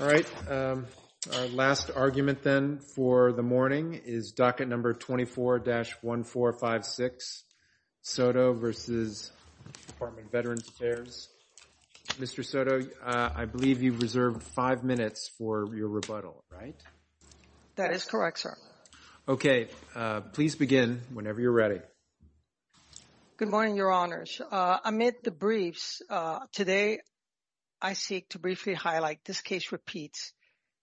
All right, our last argument then for the morning is docket number 24-1456, Soto v. Department of Veterans Affairs. Mr. Soto, I believe you reserved five minutes for your rebuttal, right? That is correct, sir. Okay, please begin whenever you're ready. Good morning, Your Honors. Amid the briefs today, I seek to briefly highlight this case repeats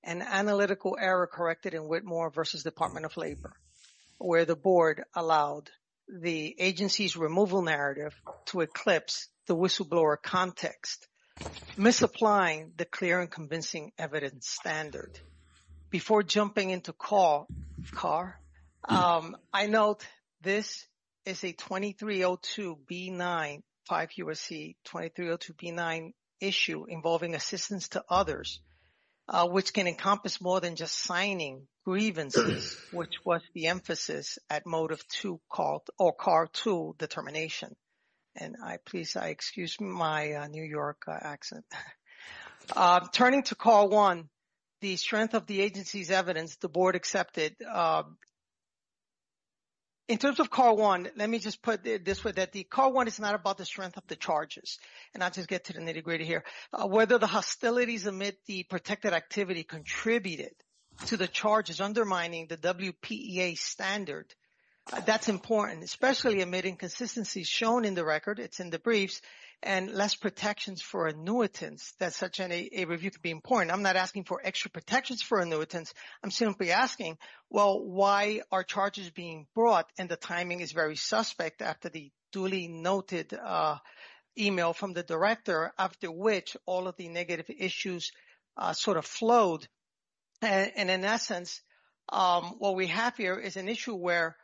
an analytical error corrected in Whitmore v. Department of Labor, where the board allowed the agency's removal narrative to eclipse the whistleblower context, misapplying the clear and convincing evidence standard. Before jumping into Carr, I note this is a 2302 B-9, 5 QRC 2302 B-9 issue involving assistance to others, which can encompass more than just signing grievances, which was the emphasis at motive 2 or Carr 2 determination. And please, I excuse my New York accent. Turning to Carr 1, the strength of the agency's evidence the board accepted. In terms of Carr 1, let me just put this way that the Carr 1 is not about the strength of the charges. And I'll just get to the nitty-gritty here. Whether the hostilities amid the protected activity contributed to the charges undermining the WPEA standard, that's important, especially amid inconsistencies shown in the record, it's in the briefs, and less protections for annuitants that such a review could be important. I'm not asking for extra protections for annuitants. I'm simply asking, well, why are charges being brought and the timing is very suspect after the duly noted email from the director after which all of the negative issues sort of flowed. And in essence, what we have here is an issue where,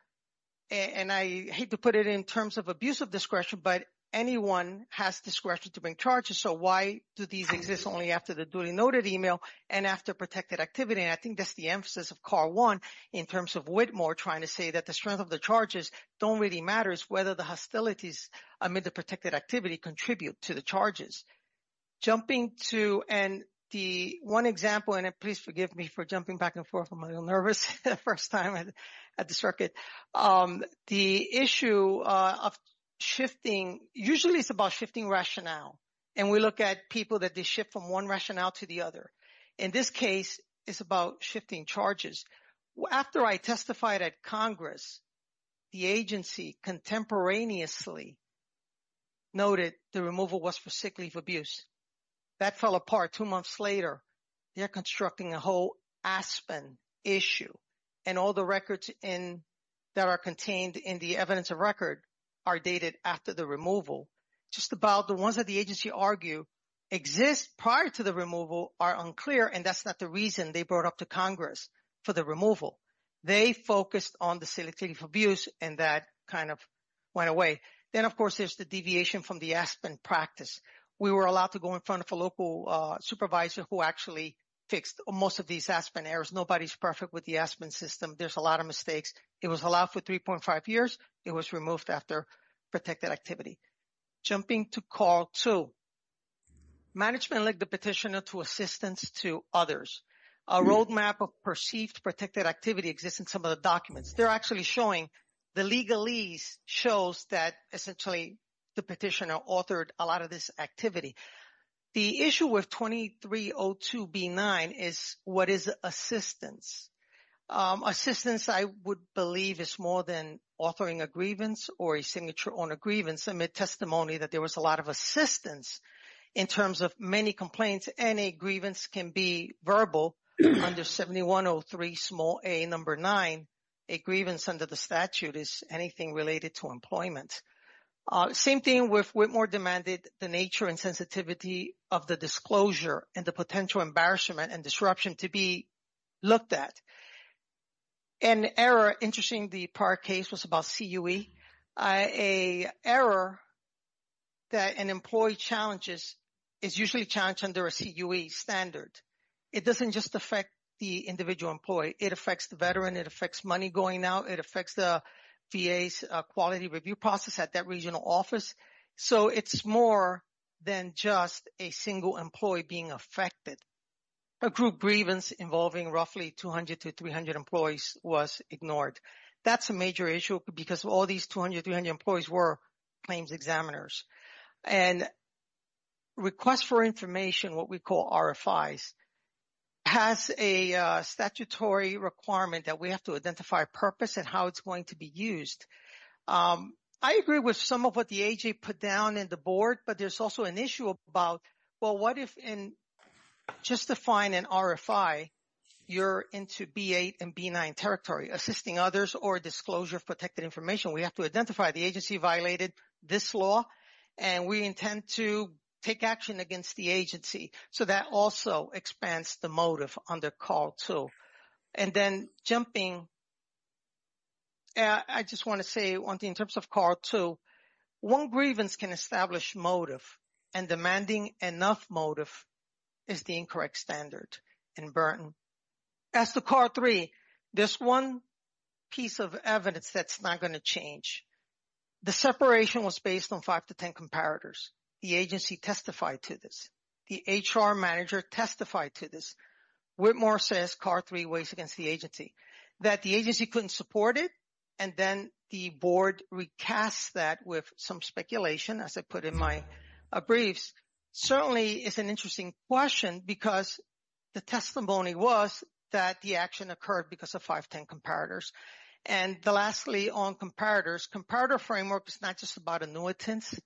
and I hate to put it in terms of abuse discretion, but anyone has discretion to bring charges. So why do these exist only after the duly noted email and after protected activity? And I think that's the emphasis of Carr 1 in terms of Whitmore trying to say that the strength of the charges don't really matter, it's whether the hostilities amid the protected activity contribute to the charges. Jumping to, and the one example, and please forgive me for jumping back and forth. I'm a lawyer. The issue of shifting, usually it's about shifting rationale. And we look at people that they shift from one rationale to the other. In this case, it's about shifting charges. After I testified at Congress, the agency contemporaneously noted the removal was for sick leave abuse. That fell apart two months later. They're constructing a whole Aspen issue and all the records that are contained in the evidence of record are dated after the removal. Just about the ones that the agency argue exist prior to the removal are unclear. And that's not the reason they brought up to Congress for the removal. They focused on the sick leave abuse and that kind of went away. Then of course, there's the deviation from the Aspen practice. We were allowed to go in front of a local supervisor who actually fixed most of these Aspen errors. Nobody's with the Aspen system. There's a lot of mistakes. It was allowed for 3.5 years. It was removed after protected activity. Jumping to call two. Management led the petitioner to assistance to others. A roadmap of perceived protected activity exists in some of the documents. They're actually showing the legalese shows that essentially the petitioner authored a lot of this activity. The issue with 2302B9 is what is assistance? Assistance, I would believe, is more than authoring a grievance or a signature on a grievance amid testimony that there was a lot of assistance in terms of many complaints. Any grievance can be verbal under 7103a9. A grievance under the statute is anything related to employment. Same thing with Whitmore demanded the nature and sensitivity of the disclosure and the potential embarrassment and disruption to be looked at. An error, interesting, the prior case was about CUE. An error that an employee challenges is usually challenged under a CUE standard. It doesn't just affect the individual employee. It affects the veteran. It affects money going out. It affects VA's quality review process at that regional office. So, it's more than just a single employee being affected. A group grievance involving roughly 200 to 300 employees was ignored. That's a major issue because all these 200, 300 employees were claims examiners. And request for information, what we call RFIs, has a statutory requirement that we have to identify purpose and how it's going to be used. I agree with some of what the AG put down in the board, but there's also an issue about, well, what if in justifying an RFI, you're into B8 and B9 territory, assisting others or disclosure of protected information. We have to identify the agency violated this law, and we intend to take action against the agency. So, that also expands the motive under CAR-2. And then jumping, I just want to say in terms of CAR-2, one grievance can establish motive and demanding enough motive is the incorrect standard in Burton. As to CAR-3, there's one piece of evidence that's not going to change. The separation was based on five to 10 comparators. The agency testified to this. The HR manager testified to this. Whitmore says CAR-3 weighs against the agency, that the agency couldn't support it. And then the board recasts that with some speculation, as I put in my briefs. Certainly, it's an interesting question because the testimony was that the action occurred because of five to 10 comparators. And lastly, on comparators, comparator framework is not just about annuitants.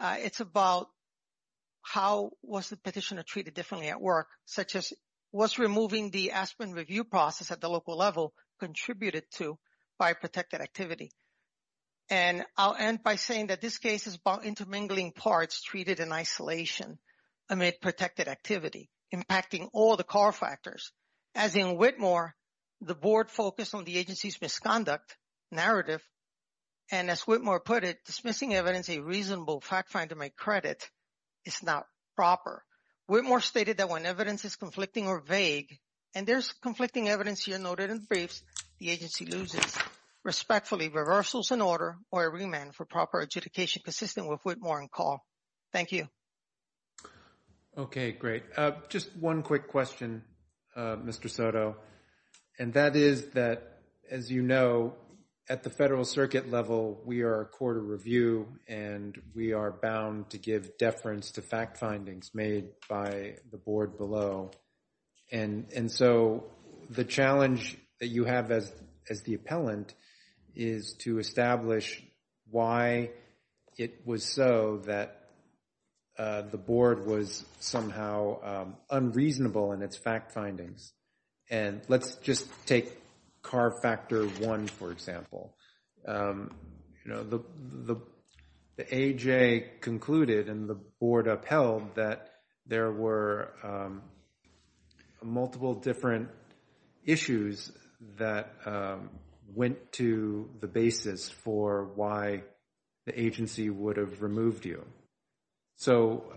It's about how was the petitioner treated differently at work, such as was removing the aspirin review process at the local level contributed to by protected activity. And I'll end by saying that this case is about intermingling parts treated in isolation amid protected activity, impacting all the CAR factors. As in Whitmore, the board focused on the agency's misconduct narrative. And as Whitmore put it, dismissing evidence a reasonable fact find to make credit is not proper. Whitmore stated that when evidence is conflicting or vague, and there's conflicting evidence here noted in briefs, the agency loses. Respectfully, reversals in order or a remand for proper adjudication consistent with Whitmore and call. Thank you. Okay, great. Just one quick question, Mr. Soto. And that is that, as you know, at the federal circuit level, we are a court of review and we are bound to give deference to fact findings made by the board below. And so the challenge that you have as the appellant is to establish why it was so that the board was somehow unreasonable in its fact findings. And let's just take CAR factor one, for example. You know, the AHA concluded and the board upheld that there were multiple different issues that went to the basis for why the agency would have removed you. So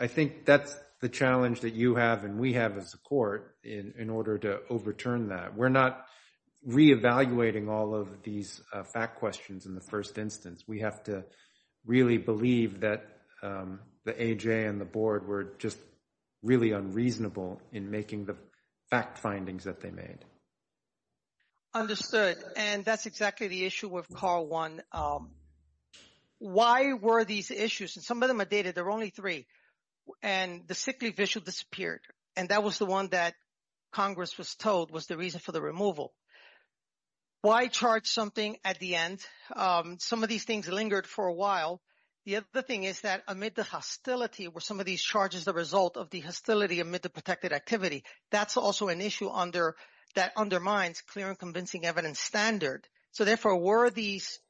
I think that's the challenge that you have and we have as a court in order to overturn that. We're not reevaluating all of these fact questions in the first instance. We have to really believe that the AHA and the board were just really unreasonable in making the fact findings that they made. Understood. And that's exactly the issue with CAR one. Why were these issues? And some of them are dated. There were only three. And the sickly visual disappeared. And that was the one that Congress was told was the reason for the removal. Why charge something at the end? Some of these things lingered for a while. The other thing is that amid the hostility were some of these charges the result of the hostility amid the protected activity. That's also an issue that undermines clear and convincing evidence standard. So therefore, were these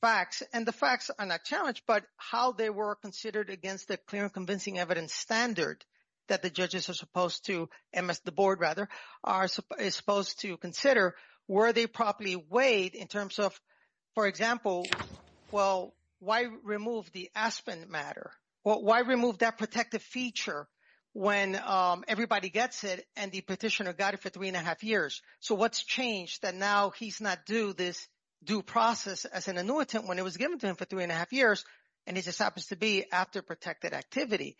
facts, and the facts are not challenged, but how they were considered against the clear and convincing evidence standard that the judges are supposed to, and the board rather, are supposed to consider, were they properly weighed in terms of, for example, well, why remove the Aspen matter? Why remove that protective feature when everybody gets it and the petitioner got it for three and a half years? So what's changed that now he's not due this due process as an annuitant when it was given to him for three and a half years, and he just happens to be after protected activity.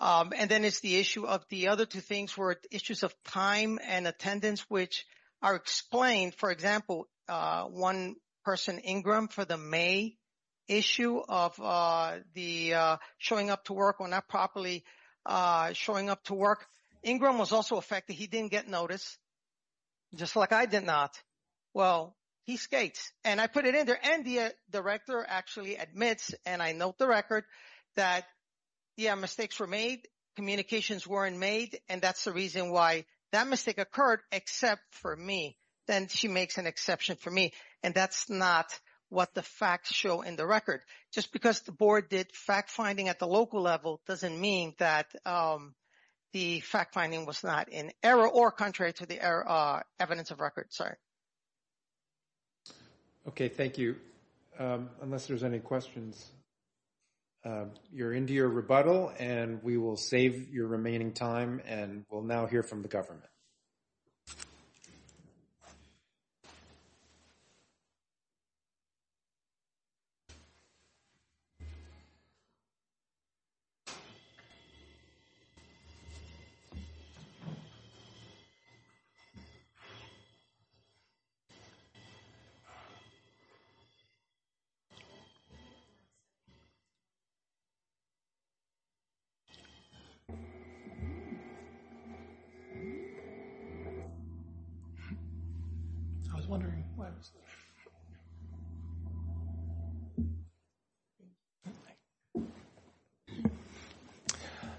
And then it's the issue of the other two things were issues of time and attendance, which are explained. For example, one person, Ingram, for the May issue of the showing up to work or not properly showing up to work, Ingram was also affected. He didn't get notice, just like I did not. Well, he skates. And I put it in there. And the director actually admits, and I note the record that, yeah, mistakes were made, communications weren't made. And that's the reason why that mistake occurred, except for me. Then she makes an exception for me. And that's not what the facts show in the record. Just because the board did fact finding at the local level doesn't mean that the fact finding was not in error or contrary to the evidence of record. Sorry. Okay. Thank you. Unless there's any questions, you're into your rebuttal and we will save your remaining time and we'll now hear from the I was wondering what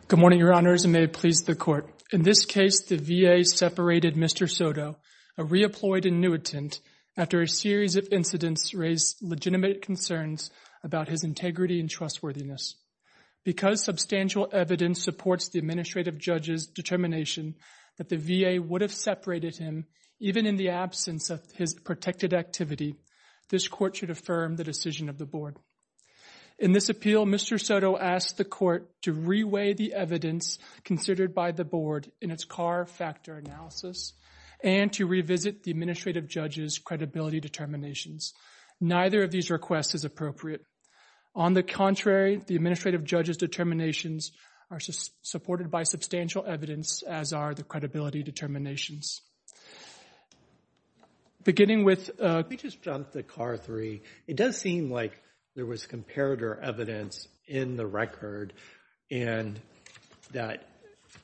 Good morning, Your Honors, and may it please the court. In this case, the VA separated Mr. Soto, a reapplied annuitant, after a series of incidents raised legitimate concerns about his integrity and trustworthiness. Because substantial evidence supports the administrative judge's determination that the VA would have separated him even in the absence of his protected activity. This court should affirm the decision of the board. In this appeal, Mr. Soto asked the court to reweigh the evidence considered by the board in its car factor analysis and to revisit the administrative judge's credibility determinations. Neither of these requests is appropriate. On the contrary, the administrative judge's determinations are supported by substantial evidence as are the credibility determinations. Beginning with Let me just jump the car three. It does seem like there was comparator evidence in the record and that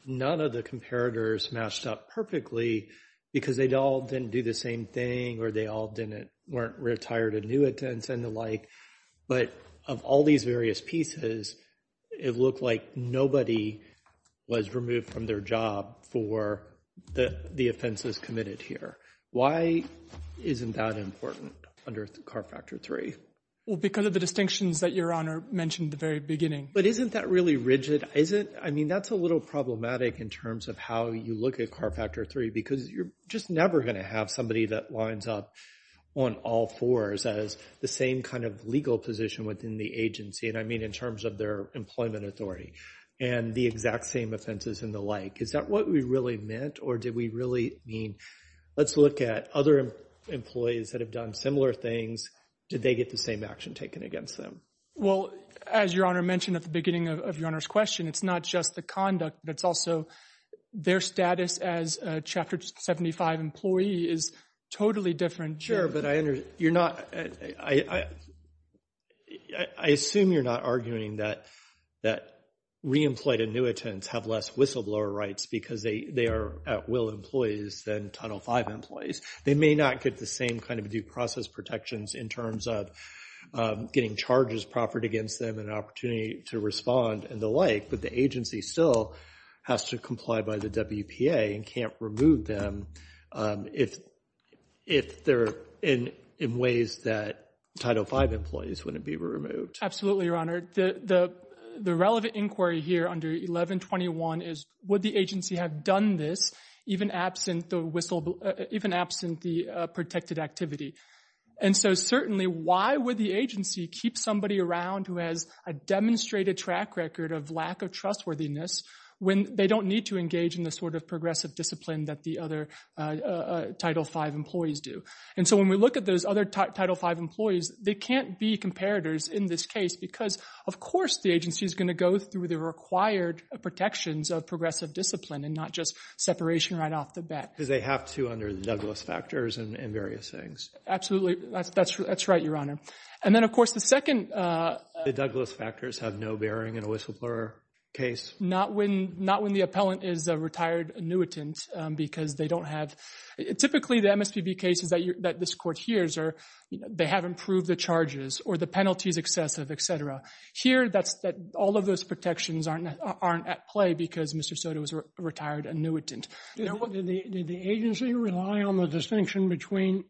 none of the comparators matched up perfectly because they all didn't do the same thing or they all didn't weren't retired annuitants and the like. But of all these various pieces, it looked like nobody was removed from their job for the offenses committed here. Why isn't that important under the car factor three? Well, because of the distinctions that Your Honor mentioned at the very beginning. But isn't that really rigid? I mean, that's a little problematic in terms of how you look at car factor three because you're just never going to have somebody that lines up on all fours as the same kind of legal position within the agency. And I mean, in terms of their employment authority and the exact same offenses and the like. Is that what we really meant or did we really mean? Let's look at other employees that have done similar things. Did they get the same action taken against them? Well, as Your Honor mentioned at the beginning of Your Honor's question, it's not just the conduct. It's also their status as a Chapter 75 employee is totally different. Sure, but I assume you're not arguing that re-employed annuitants have less whistleblower rights because they are at-will employees than Title V employees. They may not get the same kind of due process protections in terms of getting charges proffered against them and opportunity to respond and the like. But the agency still has to comply by the WPA and can't remove them if they're in ways that Title V employees wouldn't be removed. Absolutely, Your Honor. The relevant inquiry here under 1121 is would the agency have done this even absent the whistleblower, even absent the protected activity? And so certainly why would the agency keep somebody around who has a demonstrated track record of lack of trustworthiness when they don't need to engage in the sort of progressive discipline that the other Title V employees do? And so when we look at those other Title V employees, they can't be comparators in this case because of course the agency is going to go through the required protections of progressive discipline and not just separation right off the bat. Because they have to under the Douglas factors and various things. Absolutely, that's right, Your Honor. And then of course the second— The Douglas factors have no bearing in a whistleblower case? Not when the appellant is a retired annuitant because they don't have—typically the MSPB cases that this court hears are they haven't proved the charges or the penalties excessive, etc. Here that's that all of those protections aren't at play because Mr. Soto is a retired annuitant. Did the agency rely on the distinction between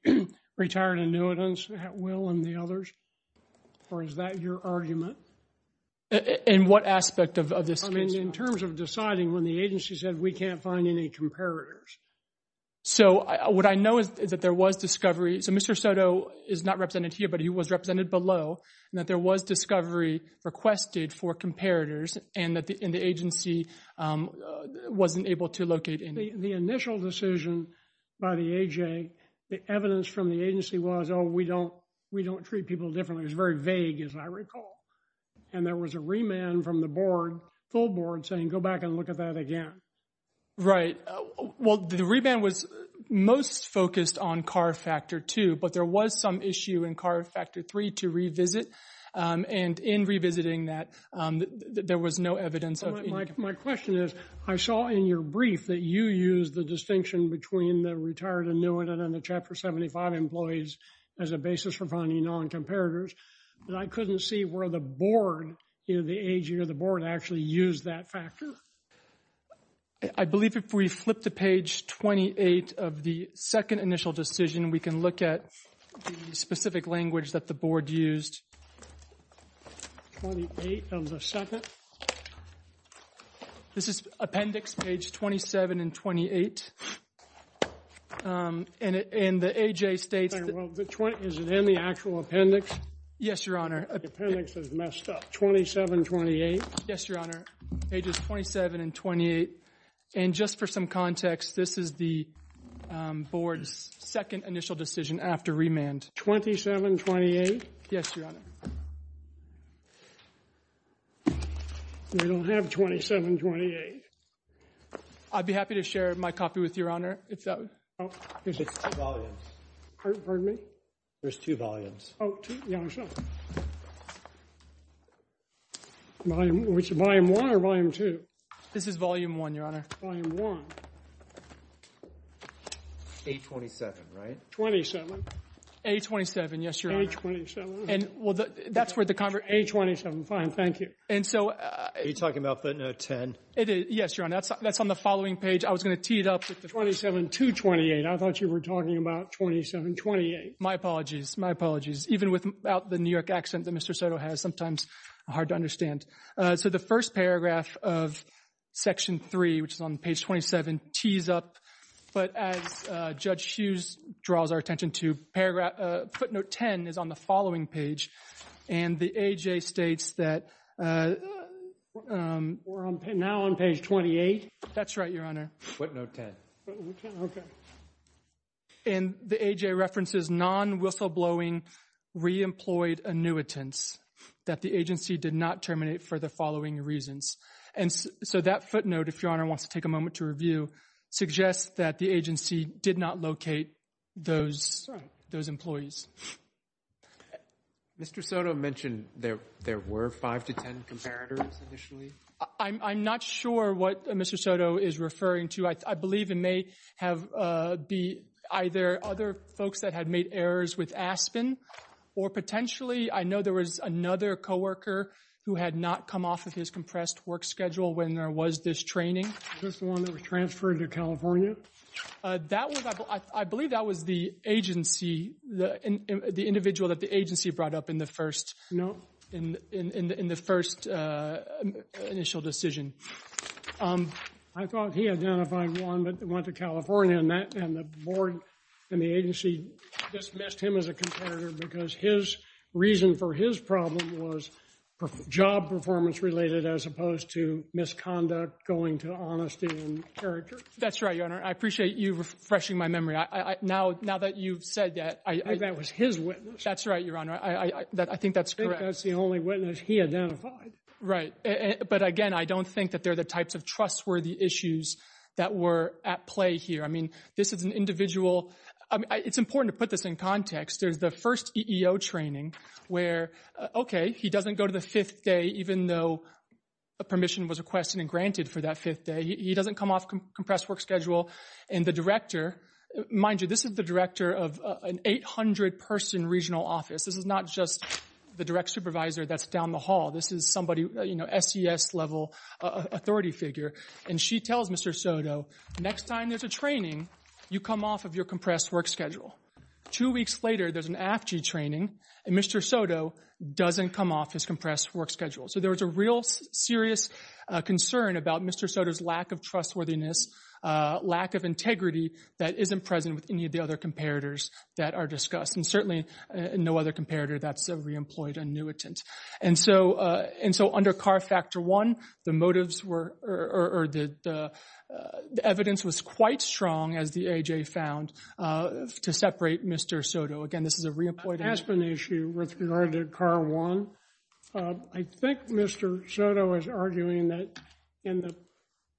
retired annuitants at will and the others? Or is that your argument? In what aspect of this case? In terms of deciding when the agency said we can't find any comparators. So what I know is that there was discovery. So Mr. Soto is not represented here but he was represented below and that there was discovery requested for comparators and that the agency wasn't able to locate any. The initial decision by the AJ, the evidence from the agency was oh we don't treat people differently. It was very vague as I recall. And there was a remand from the board, full board, saying go back and look at that again. Right. Well the remand was most focused on CAR factor 2 but there was some issue in CAR factor 3 to revisit and in revisiting that there was no evidence of— My question is I saw in your brief that you used the distinction between the retired annuitant and the Chapter 75 employees as a basis for finding non-comparators but I couldn't see where the board, the AJ or the board actually used that factor. I believe if we flip to page 28 of the second initial decision we can look at the specific language that the board used. 28 of the second. This is appendix page 27 and 28. And the AJ states— Is it in the actual appendix? Yes, Your Honor. The appendix is messed up. 27, 28? Yes, Your Honor. Pages 27 and 28. And just for some context, this is the board's second initial decision after remand. 27, 28? Yes, Your Honor. We don't have 27, 28. I'd be happy to share my copy with you, Your Honor. Oh, there's two volumes. Pardon me? There's two volumes. Oh, two. Yeah, I'm sorry. Volume 1 or Volume 2? This is Volume 1, Your Honor. Volume 1. 827, right? 27. 827, yes, Your Honor. 827. And well, that's where the— 827, fine. Thank you. And so— Are you talking about footnote 10? Yes, Your Honor. That's on the following page. I was going to tee it up with the— 27 to 28. I thought you were talking about 27, 28. My apologies. My apologies. Even without the New York accent that Mr. Soto has, sometimes hard to understand. So the first paragraph of Section 3, which is on page 27, tees up. But as Judge Hughes draws our attention to, footnote 10 is on the following page. And the AHA states that— We're now on page 28? That's right, Your Honor. Footnote 10. And the AHA references non-whistleblowing re-employed annuitants that the agency did not terminate for the following reasons. And so that footnote, if Your Honor wants to take a moment to review, suggests that the agency did not locate those employees. Mr. Soto mentioned there were 5 to 10 comparators initially? I'm not sure what Mr. Soto is referring to. I believe it may have be either other folks that had made errors with Aspen, or potentially, I know there was another co-worker who had not come off of his compressed work schedule when there was this training. This one that was transferred to California? That was, I believe that was the agency, the individual that the agency brought up in the first initial decision. I thought he identified one that went to California, and the board and the agency dismissed him as a comparator because his reason for his problem was job performance-related as opposed to misconduct going to honesty and character. That's right, Your Honor. I appreciate you refreshing my memory. Now that you've said that. I think that was his witness. That's right, Your Honor. I think that's correct. I think that's the only witness he identified. Right. But again, I don't think that they're the types of trustworthy issues that were at play here. I mean, this is an individual, it's important to put this in context. There's the first EEO training where, okay, he doesn't go to the fifth day, even though permission was requested and granted for that day. He doesn't come off compressed work schedule. And the director, mind you, this is the director of an 800-person regional office. This is not just the direct supervisor that's down the hall. This is somebody, you know, SES-level authority figure. And she tells Mr. Soto, next time there's a training, you come off of your compressed work schedule. Two weeks later, there's an AFG training, and Mr. Soto doesn't come off his lack of trustworthiness, lack of integrity that isn't present with any of the other comparators that are discussed. And certainly, no other comparator that's a re-employed annuitant. And so under CAR Factor 1, the motives were, or the evidence was quite strong, as the AJ found, to separate Mr. Soto. Again, this is a re-employed annuitant. With regard to CAR 1, I think Mr. Soto is arguing that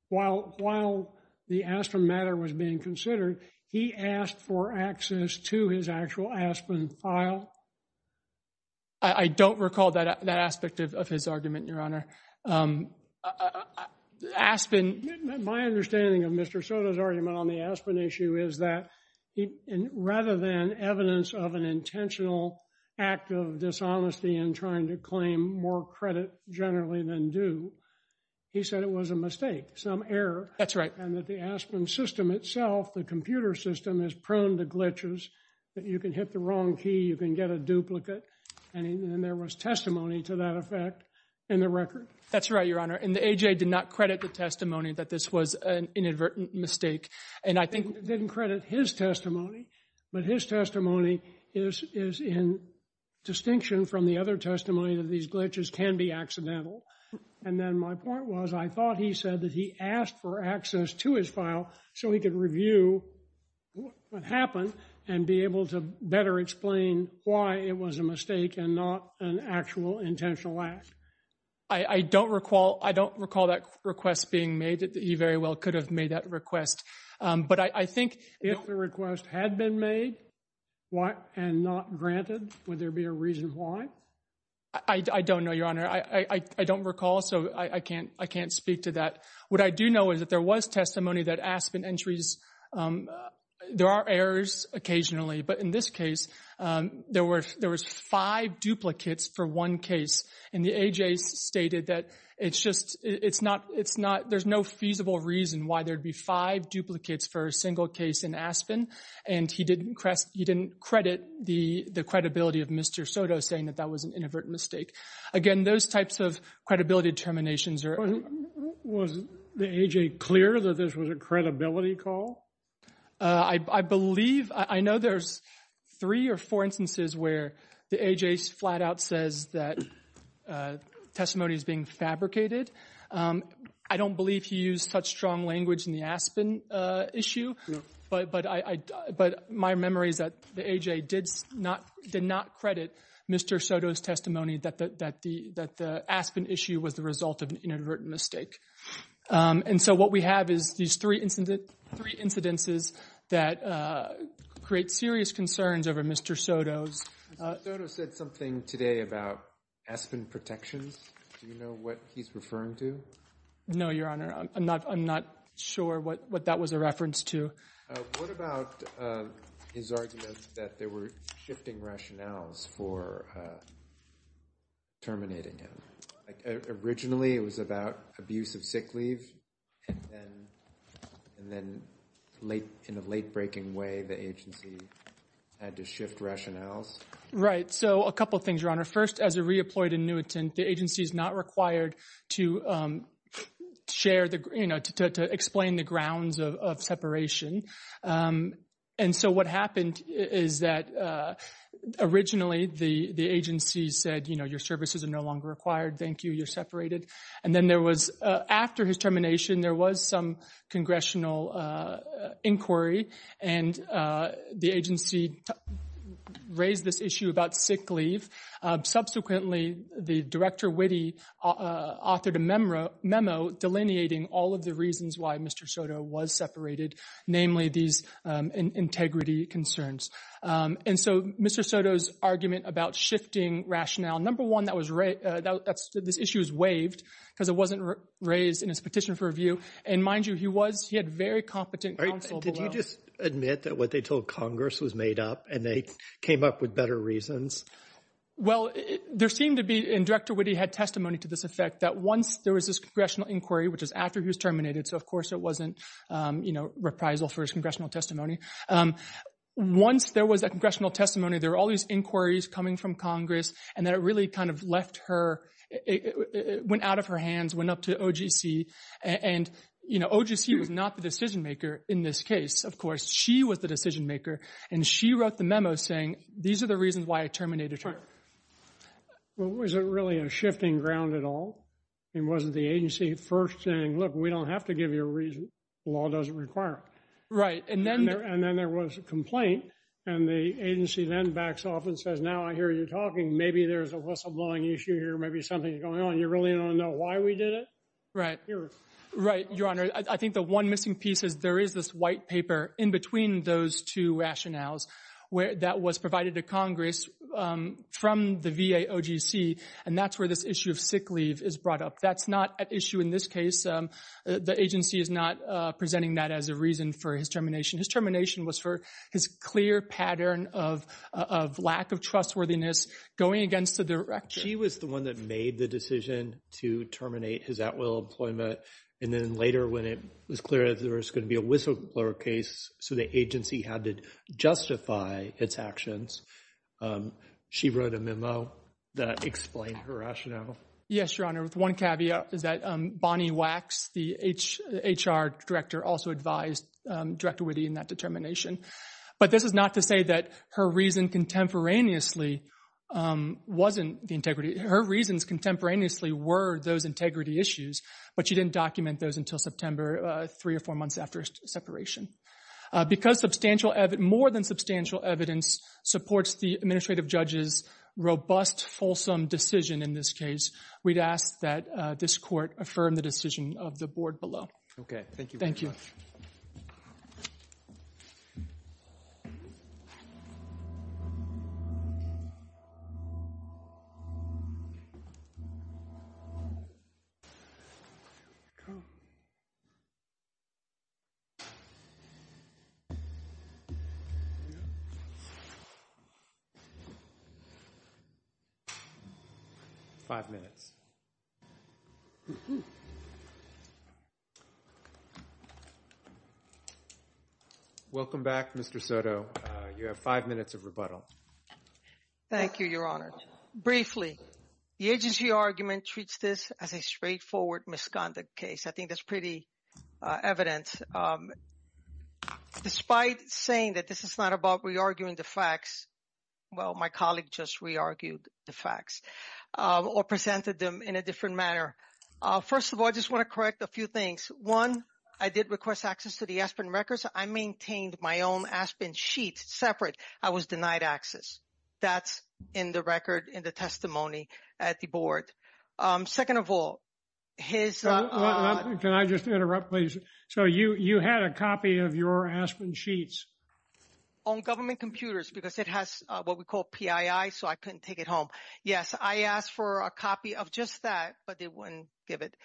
while the ASPEN matter was being considered, he asked for access to his actual ASPEN file. I don't recall that aspect of his argument, Your Honor. My understanding of Mr. Soto's argument on the ASPEN issue is that rather than evidence of an intentional act of dishonesty in trying to claim more credit generally than due, he said it was a mistake, some error. That's right. And that the ASPEN system itself, the computer system, is prone to glitches, that you can hit the wrong key, you can get a duplicate. And there was testimony to that effect in the record. That's right, Your Honor. And the AJ did not credit the testimony that this was an inadvertent mistake. And I think he didn't credit his testimony, but his testimony is in distinction from the other testimony that these glitches can be accidental. And then my point was, I thought he said that he asked for access to his file so he could review what happened and be able to better explain why it was a mistake and not an actual intentional act. I don't recall that request being made. He very well could have made that request. But I think— If the request had been made and not granted, would there be a reason why? I don't know, Your Honor. I don't recall, so I can't speak to that. What I do know is that there was testimony that ASPEN entries, there are errors occasionally. But in this case, there were five duplicates for one case. And the AJ stated that it's just—it's not—there's no feasible reason why there'd be five duplicates for a single case in ASPEN. And he didn't credit the credibility of Mr. Soto saying that that was an inadvertent mistake. Again, those types of credibility determinations are— Was the AJ clear that this was a credibility call? I believe—I know there's three or four instances where the AJ flat out says that testimony is being fabricated. I don't believe he used such strong language in the ASPEN issue. But my memory is that the AJ did not credit Mr. Soto's testimony that the ASPEN issue was the result of an inadvertent mistake. And so what we have is these three incidences that create serious concerns over Mr. Soto's— Mr. Soto said something today about ASPEN protections. Do you know what he's referring to? No, Your Honor. I'm not sure what that was a reference to. What about his argument that there were shifting rationales for terminating him? Originally, it was about abuse of sick leave. And then in a late-breaking way, the agency had to shift rationales. Right. So a couple of things, Your Honor. First, as a re-employed annuitant, the agency is not required to share the—to explain the grounds of separation. And so what happened is that originally the agency said, you know, your services are no longer required. Thank you. You're separated. And then there was—after his termination, there was some congressional inquiry and the agency raised this issue about sick leave. Subsequently, the Director Witte authored a memo delineating all of the reasons why Mr. Soto was separated, namely these integrity concerns. And so Mr. Soto's argument about shifting rationale, number one, this issue was waived because it wasn't raised in his petition for review. And mind you, he was—he had very competent counsel below. Did you just admit that what they told Congress was made up and they came up with better reasons? Well, there seemed to be—and Director Witte had testimony to this effect—that once there was this congressional inquiry, which is after he was terminated, so of course it wasn't, you know, reprisal for his congressional testimony. Once there was a congressional testimony, there were all these inquiries coming from Congress, and that it really kind of left her—it went out of her hands, went up to OGC. And, you know, OGC was not the decision maker in this case. Of course, she was the decision maker, and she wrote the memo saying, these are the reasons why I terminated her. Well, was it really a shifting ground at all? I mean, wasn't the agency first saying, look, we don't have to give you a reason. The law doesn't require it. Right, and then— And then there was a complaint, and the agency then backs off and says, now I hear you talking. Maybe there's a whistleblowing issue here. Maybe something's going on. You really don't know why we did it? Right. Right, Your Honor. I think the one missing piece is there is this white paper in between those two rationales that was provided to Congress from the VA OGC, and that's where this issue of sick leave is brought up. That's not at issue in this case. The agency is not presenting that as a reason for his termination. His termination was for his clear pattern of lack of trustworthiness going against the direction— She was the one that made the decision to terminate his at-will employment, and then later when it was clear that there was going to be a whistleblower case, so the agency had to justify its actions, she wrote a memo that explained her rationale. Yes, Your Honor. One caveat is that Bonnie Wax, the HR director, also advised Director Witte in that determination, but this is not to say that her reason contemporaneously wasn't the integrity—her reasons contemporaneously were those integrity issues, but she didn't document those until September, three or four months after separation. Because more than substantial evidence supports the administrative judge's robust, fulsome decision in this case, we'd ask that this court affirm the decision of the board below. Okay. Thank you very much. Thank you. Five minutes. Welcome back, Mr. Soto. You have five minutes of rebuttal. Thank you, Your Honor. Briefly, the agency argument treats this as a straightforward misconduct case. I think that's pretty evident. Despite saying that this is not about re-arguing the facts, well, my colleague just re-argued the facts or presented them in a different manner. First of all, I just want to correct a few things. One, I did request access to the Aspen records. I maintained my own Aspen sheet separate. I was denied access. That's in the record, in the testimony at the board. Second of all, his— Can I just interrupt, please? So you had a copy of your Aspen sheets? On government computers because it has what we call PII, so I couldn't take it home. Yes, I asked for a copy of just that, but they wouldn't give it.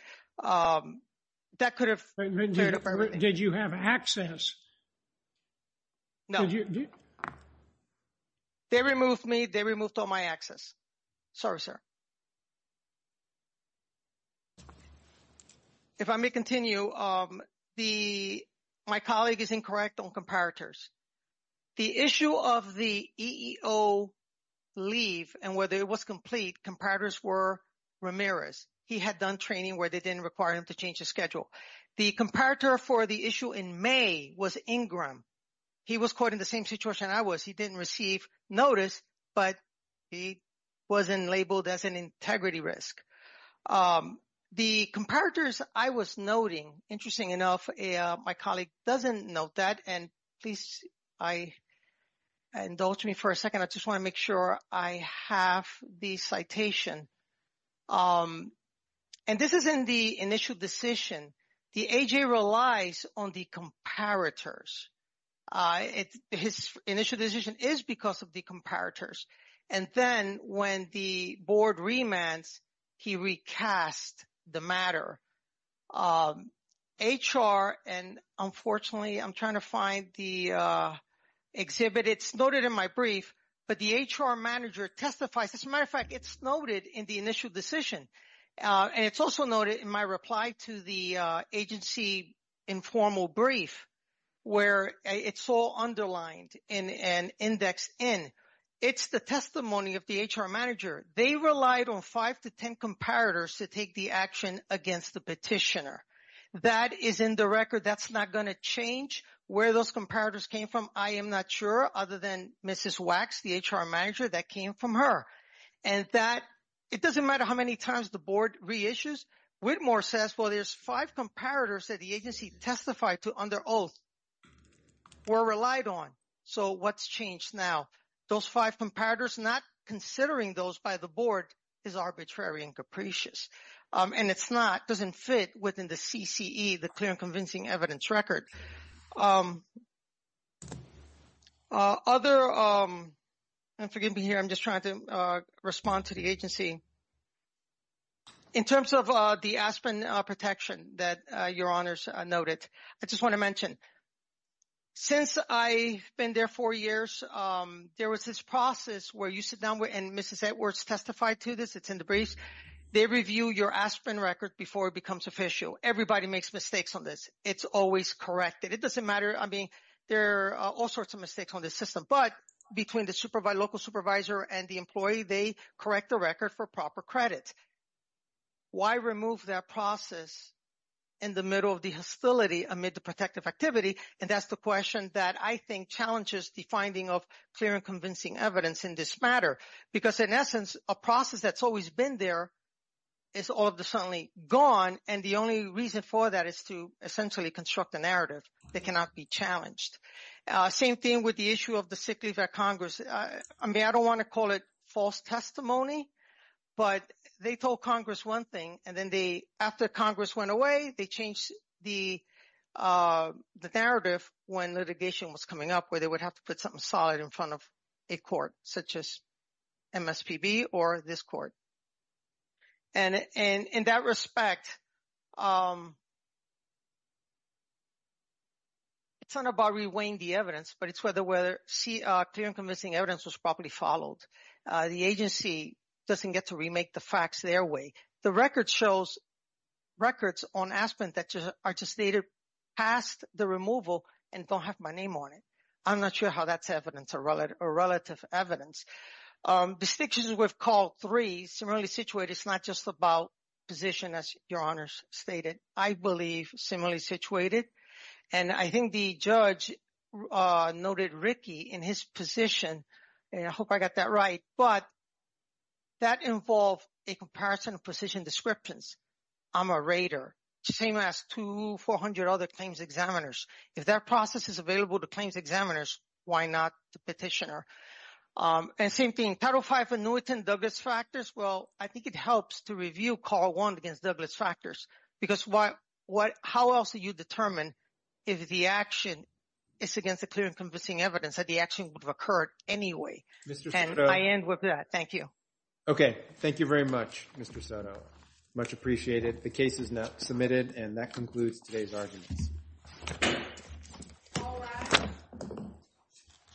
That could have— Did you have access? No. They removed me. They removed all my access. Sorry, sir. If I may continue, my colleague is incorrect on comparators. The issue of the EEO leave and whether it was complete, comparators were Ramirez. He had done training where they didn't require him to change the schedule. The comparator for the issue in May was Ingram. He was caught in the same situation I was. He didn't receive notice, but he wasn't labeled as an integrity risk. The comparators I was noting, interesting enough, my colleague doesn't note that. And please, indulge me for a second. I just want to make sure I have the citation. And this is in the initial decision. The AJ relies on the comparators. His initial decision is because of the comparators. And then when the board remands, he recast the matter. HR, and unfortunately, I'm trying to find the exhibit. It's noted in my brief, but the HR manager testifies. As a matter of fact, it's noted in the initial decision. And it's also noted in my reply to the agency informal brief, where it's all underlined and indexed in. It's the testimony of the HR manager. They relied on five to 10 comparators to take the action against the petitioner. That is in the record. That's not going to change where those comparators came from. I am not sure, other than Mrs. Wax, the HR manager, that came from her. And that it doesn't matter how many times the board reissues. Whitmore says, well, there's five comparators that the agency testified to under oath were relied on. So what's changed now? Those five comparators, not considering those by the board is arbitrary and capricious. And it's not, doesn't fit within the CCE, the Clear and Convincing Evidence record. Other, and forgive me here, I'm just trying to respond to the agency. In terms of the aspirin protection that your honors noted, I just want to mention, since I've been there four years, there was this process where you sit down with and Mrs. Edwards testified to this. It's in the briefs. They review your aspirin record before it becomes official. Everybody makes mistakes on this. It's always corrected. It doesn't matter. I mean, there are all sorts of mistakes on the system. But between the local supervisor and the employee, they correct the record for proper credit. Why remove that process in the middle of the hostility amid the protective activity? And that's the question that I think challenges the finding of Clear and Convincing Evidence in this matter. Because in essence, a process that's always been there is all of a sudden gone. And the only reason for that is to essentially construct a narrative that cannot be challenged. Same thing with the issue of the sick leave at Congress. I mean, I don't want to call it false testimony, but they told Congress one thing. And then they, after Congress went away, they changed the narrative when litigation was coming up where they would have to put something solid in front of a court, such as MSPB or this court. And in that respect, it's not about reweighing the evidence, but it's whether Clear and Convincing Evidence was properly followed. The agency doesn't get to remake the facts their way. The record shows records on aspirin that are just dated past the removal and don't have my name on it. I'm not sure how that's evidence or relative evidence. The statutes we've called three, similarly situated, it's not just about position, as your honors stated. I believe similarly situated. And I think the judge noted Ricky in his position, and I hope I got that right, but that involved a comparison of position descriptions. I'm a rater, the same as two, 400 other claims examiners. If that process is available to claims examiners, why not the petitioner? And same thing, Title V annuitant Douglas factors, well, I think it helps to review Call 1 against Douglas factors, because how else do you determine if the action is against the Clear and Convincing Evidence that the action would have occurred anyway? And I end with that. Thank you. Okay. Thank you very much, Mr. Soto. Much appreciated. The case is now submitted, and that concludes today's arguments.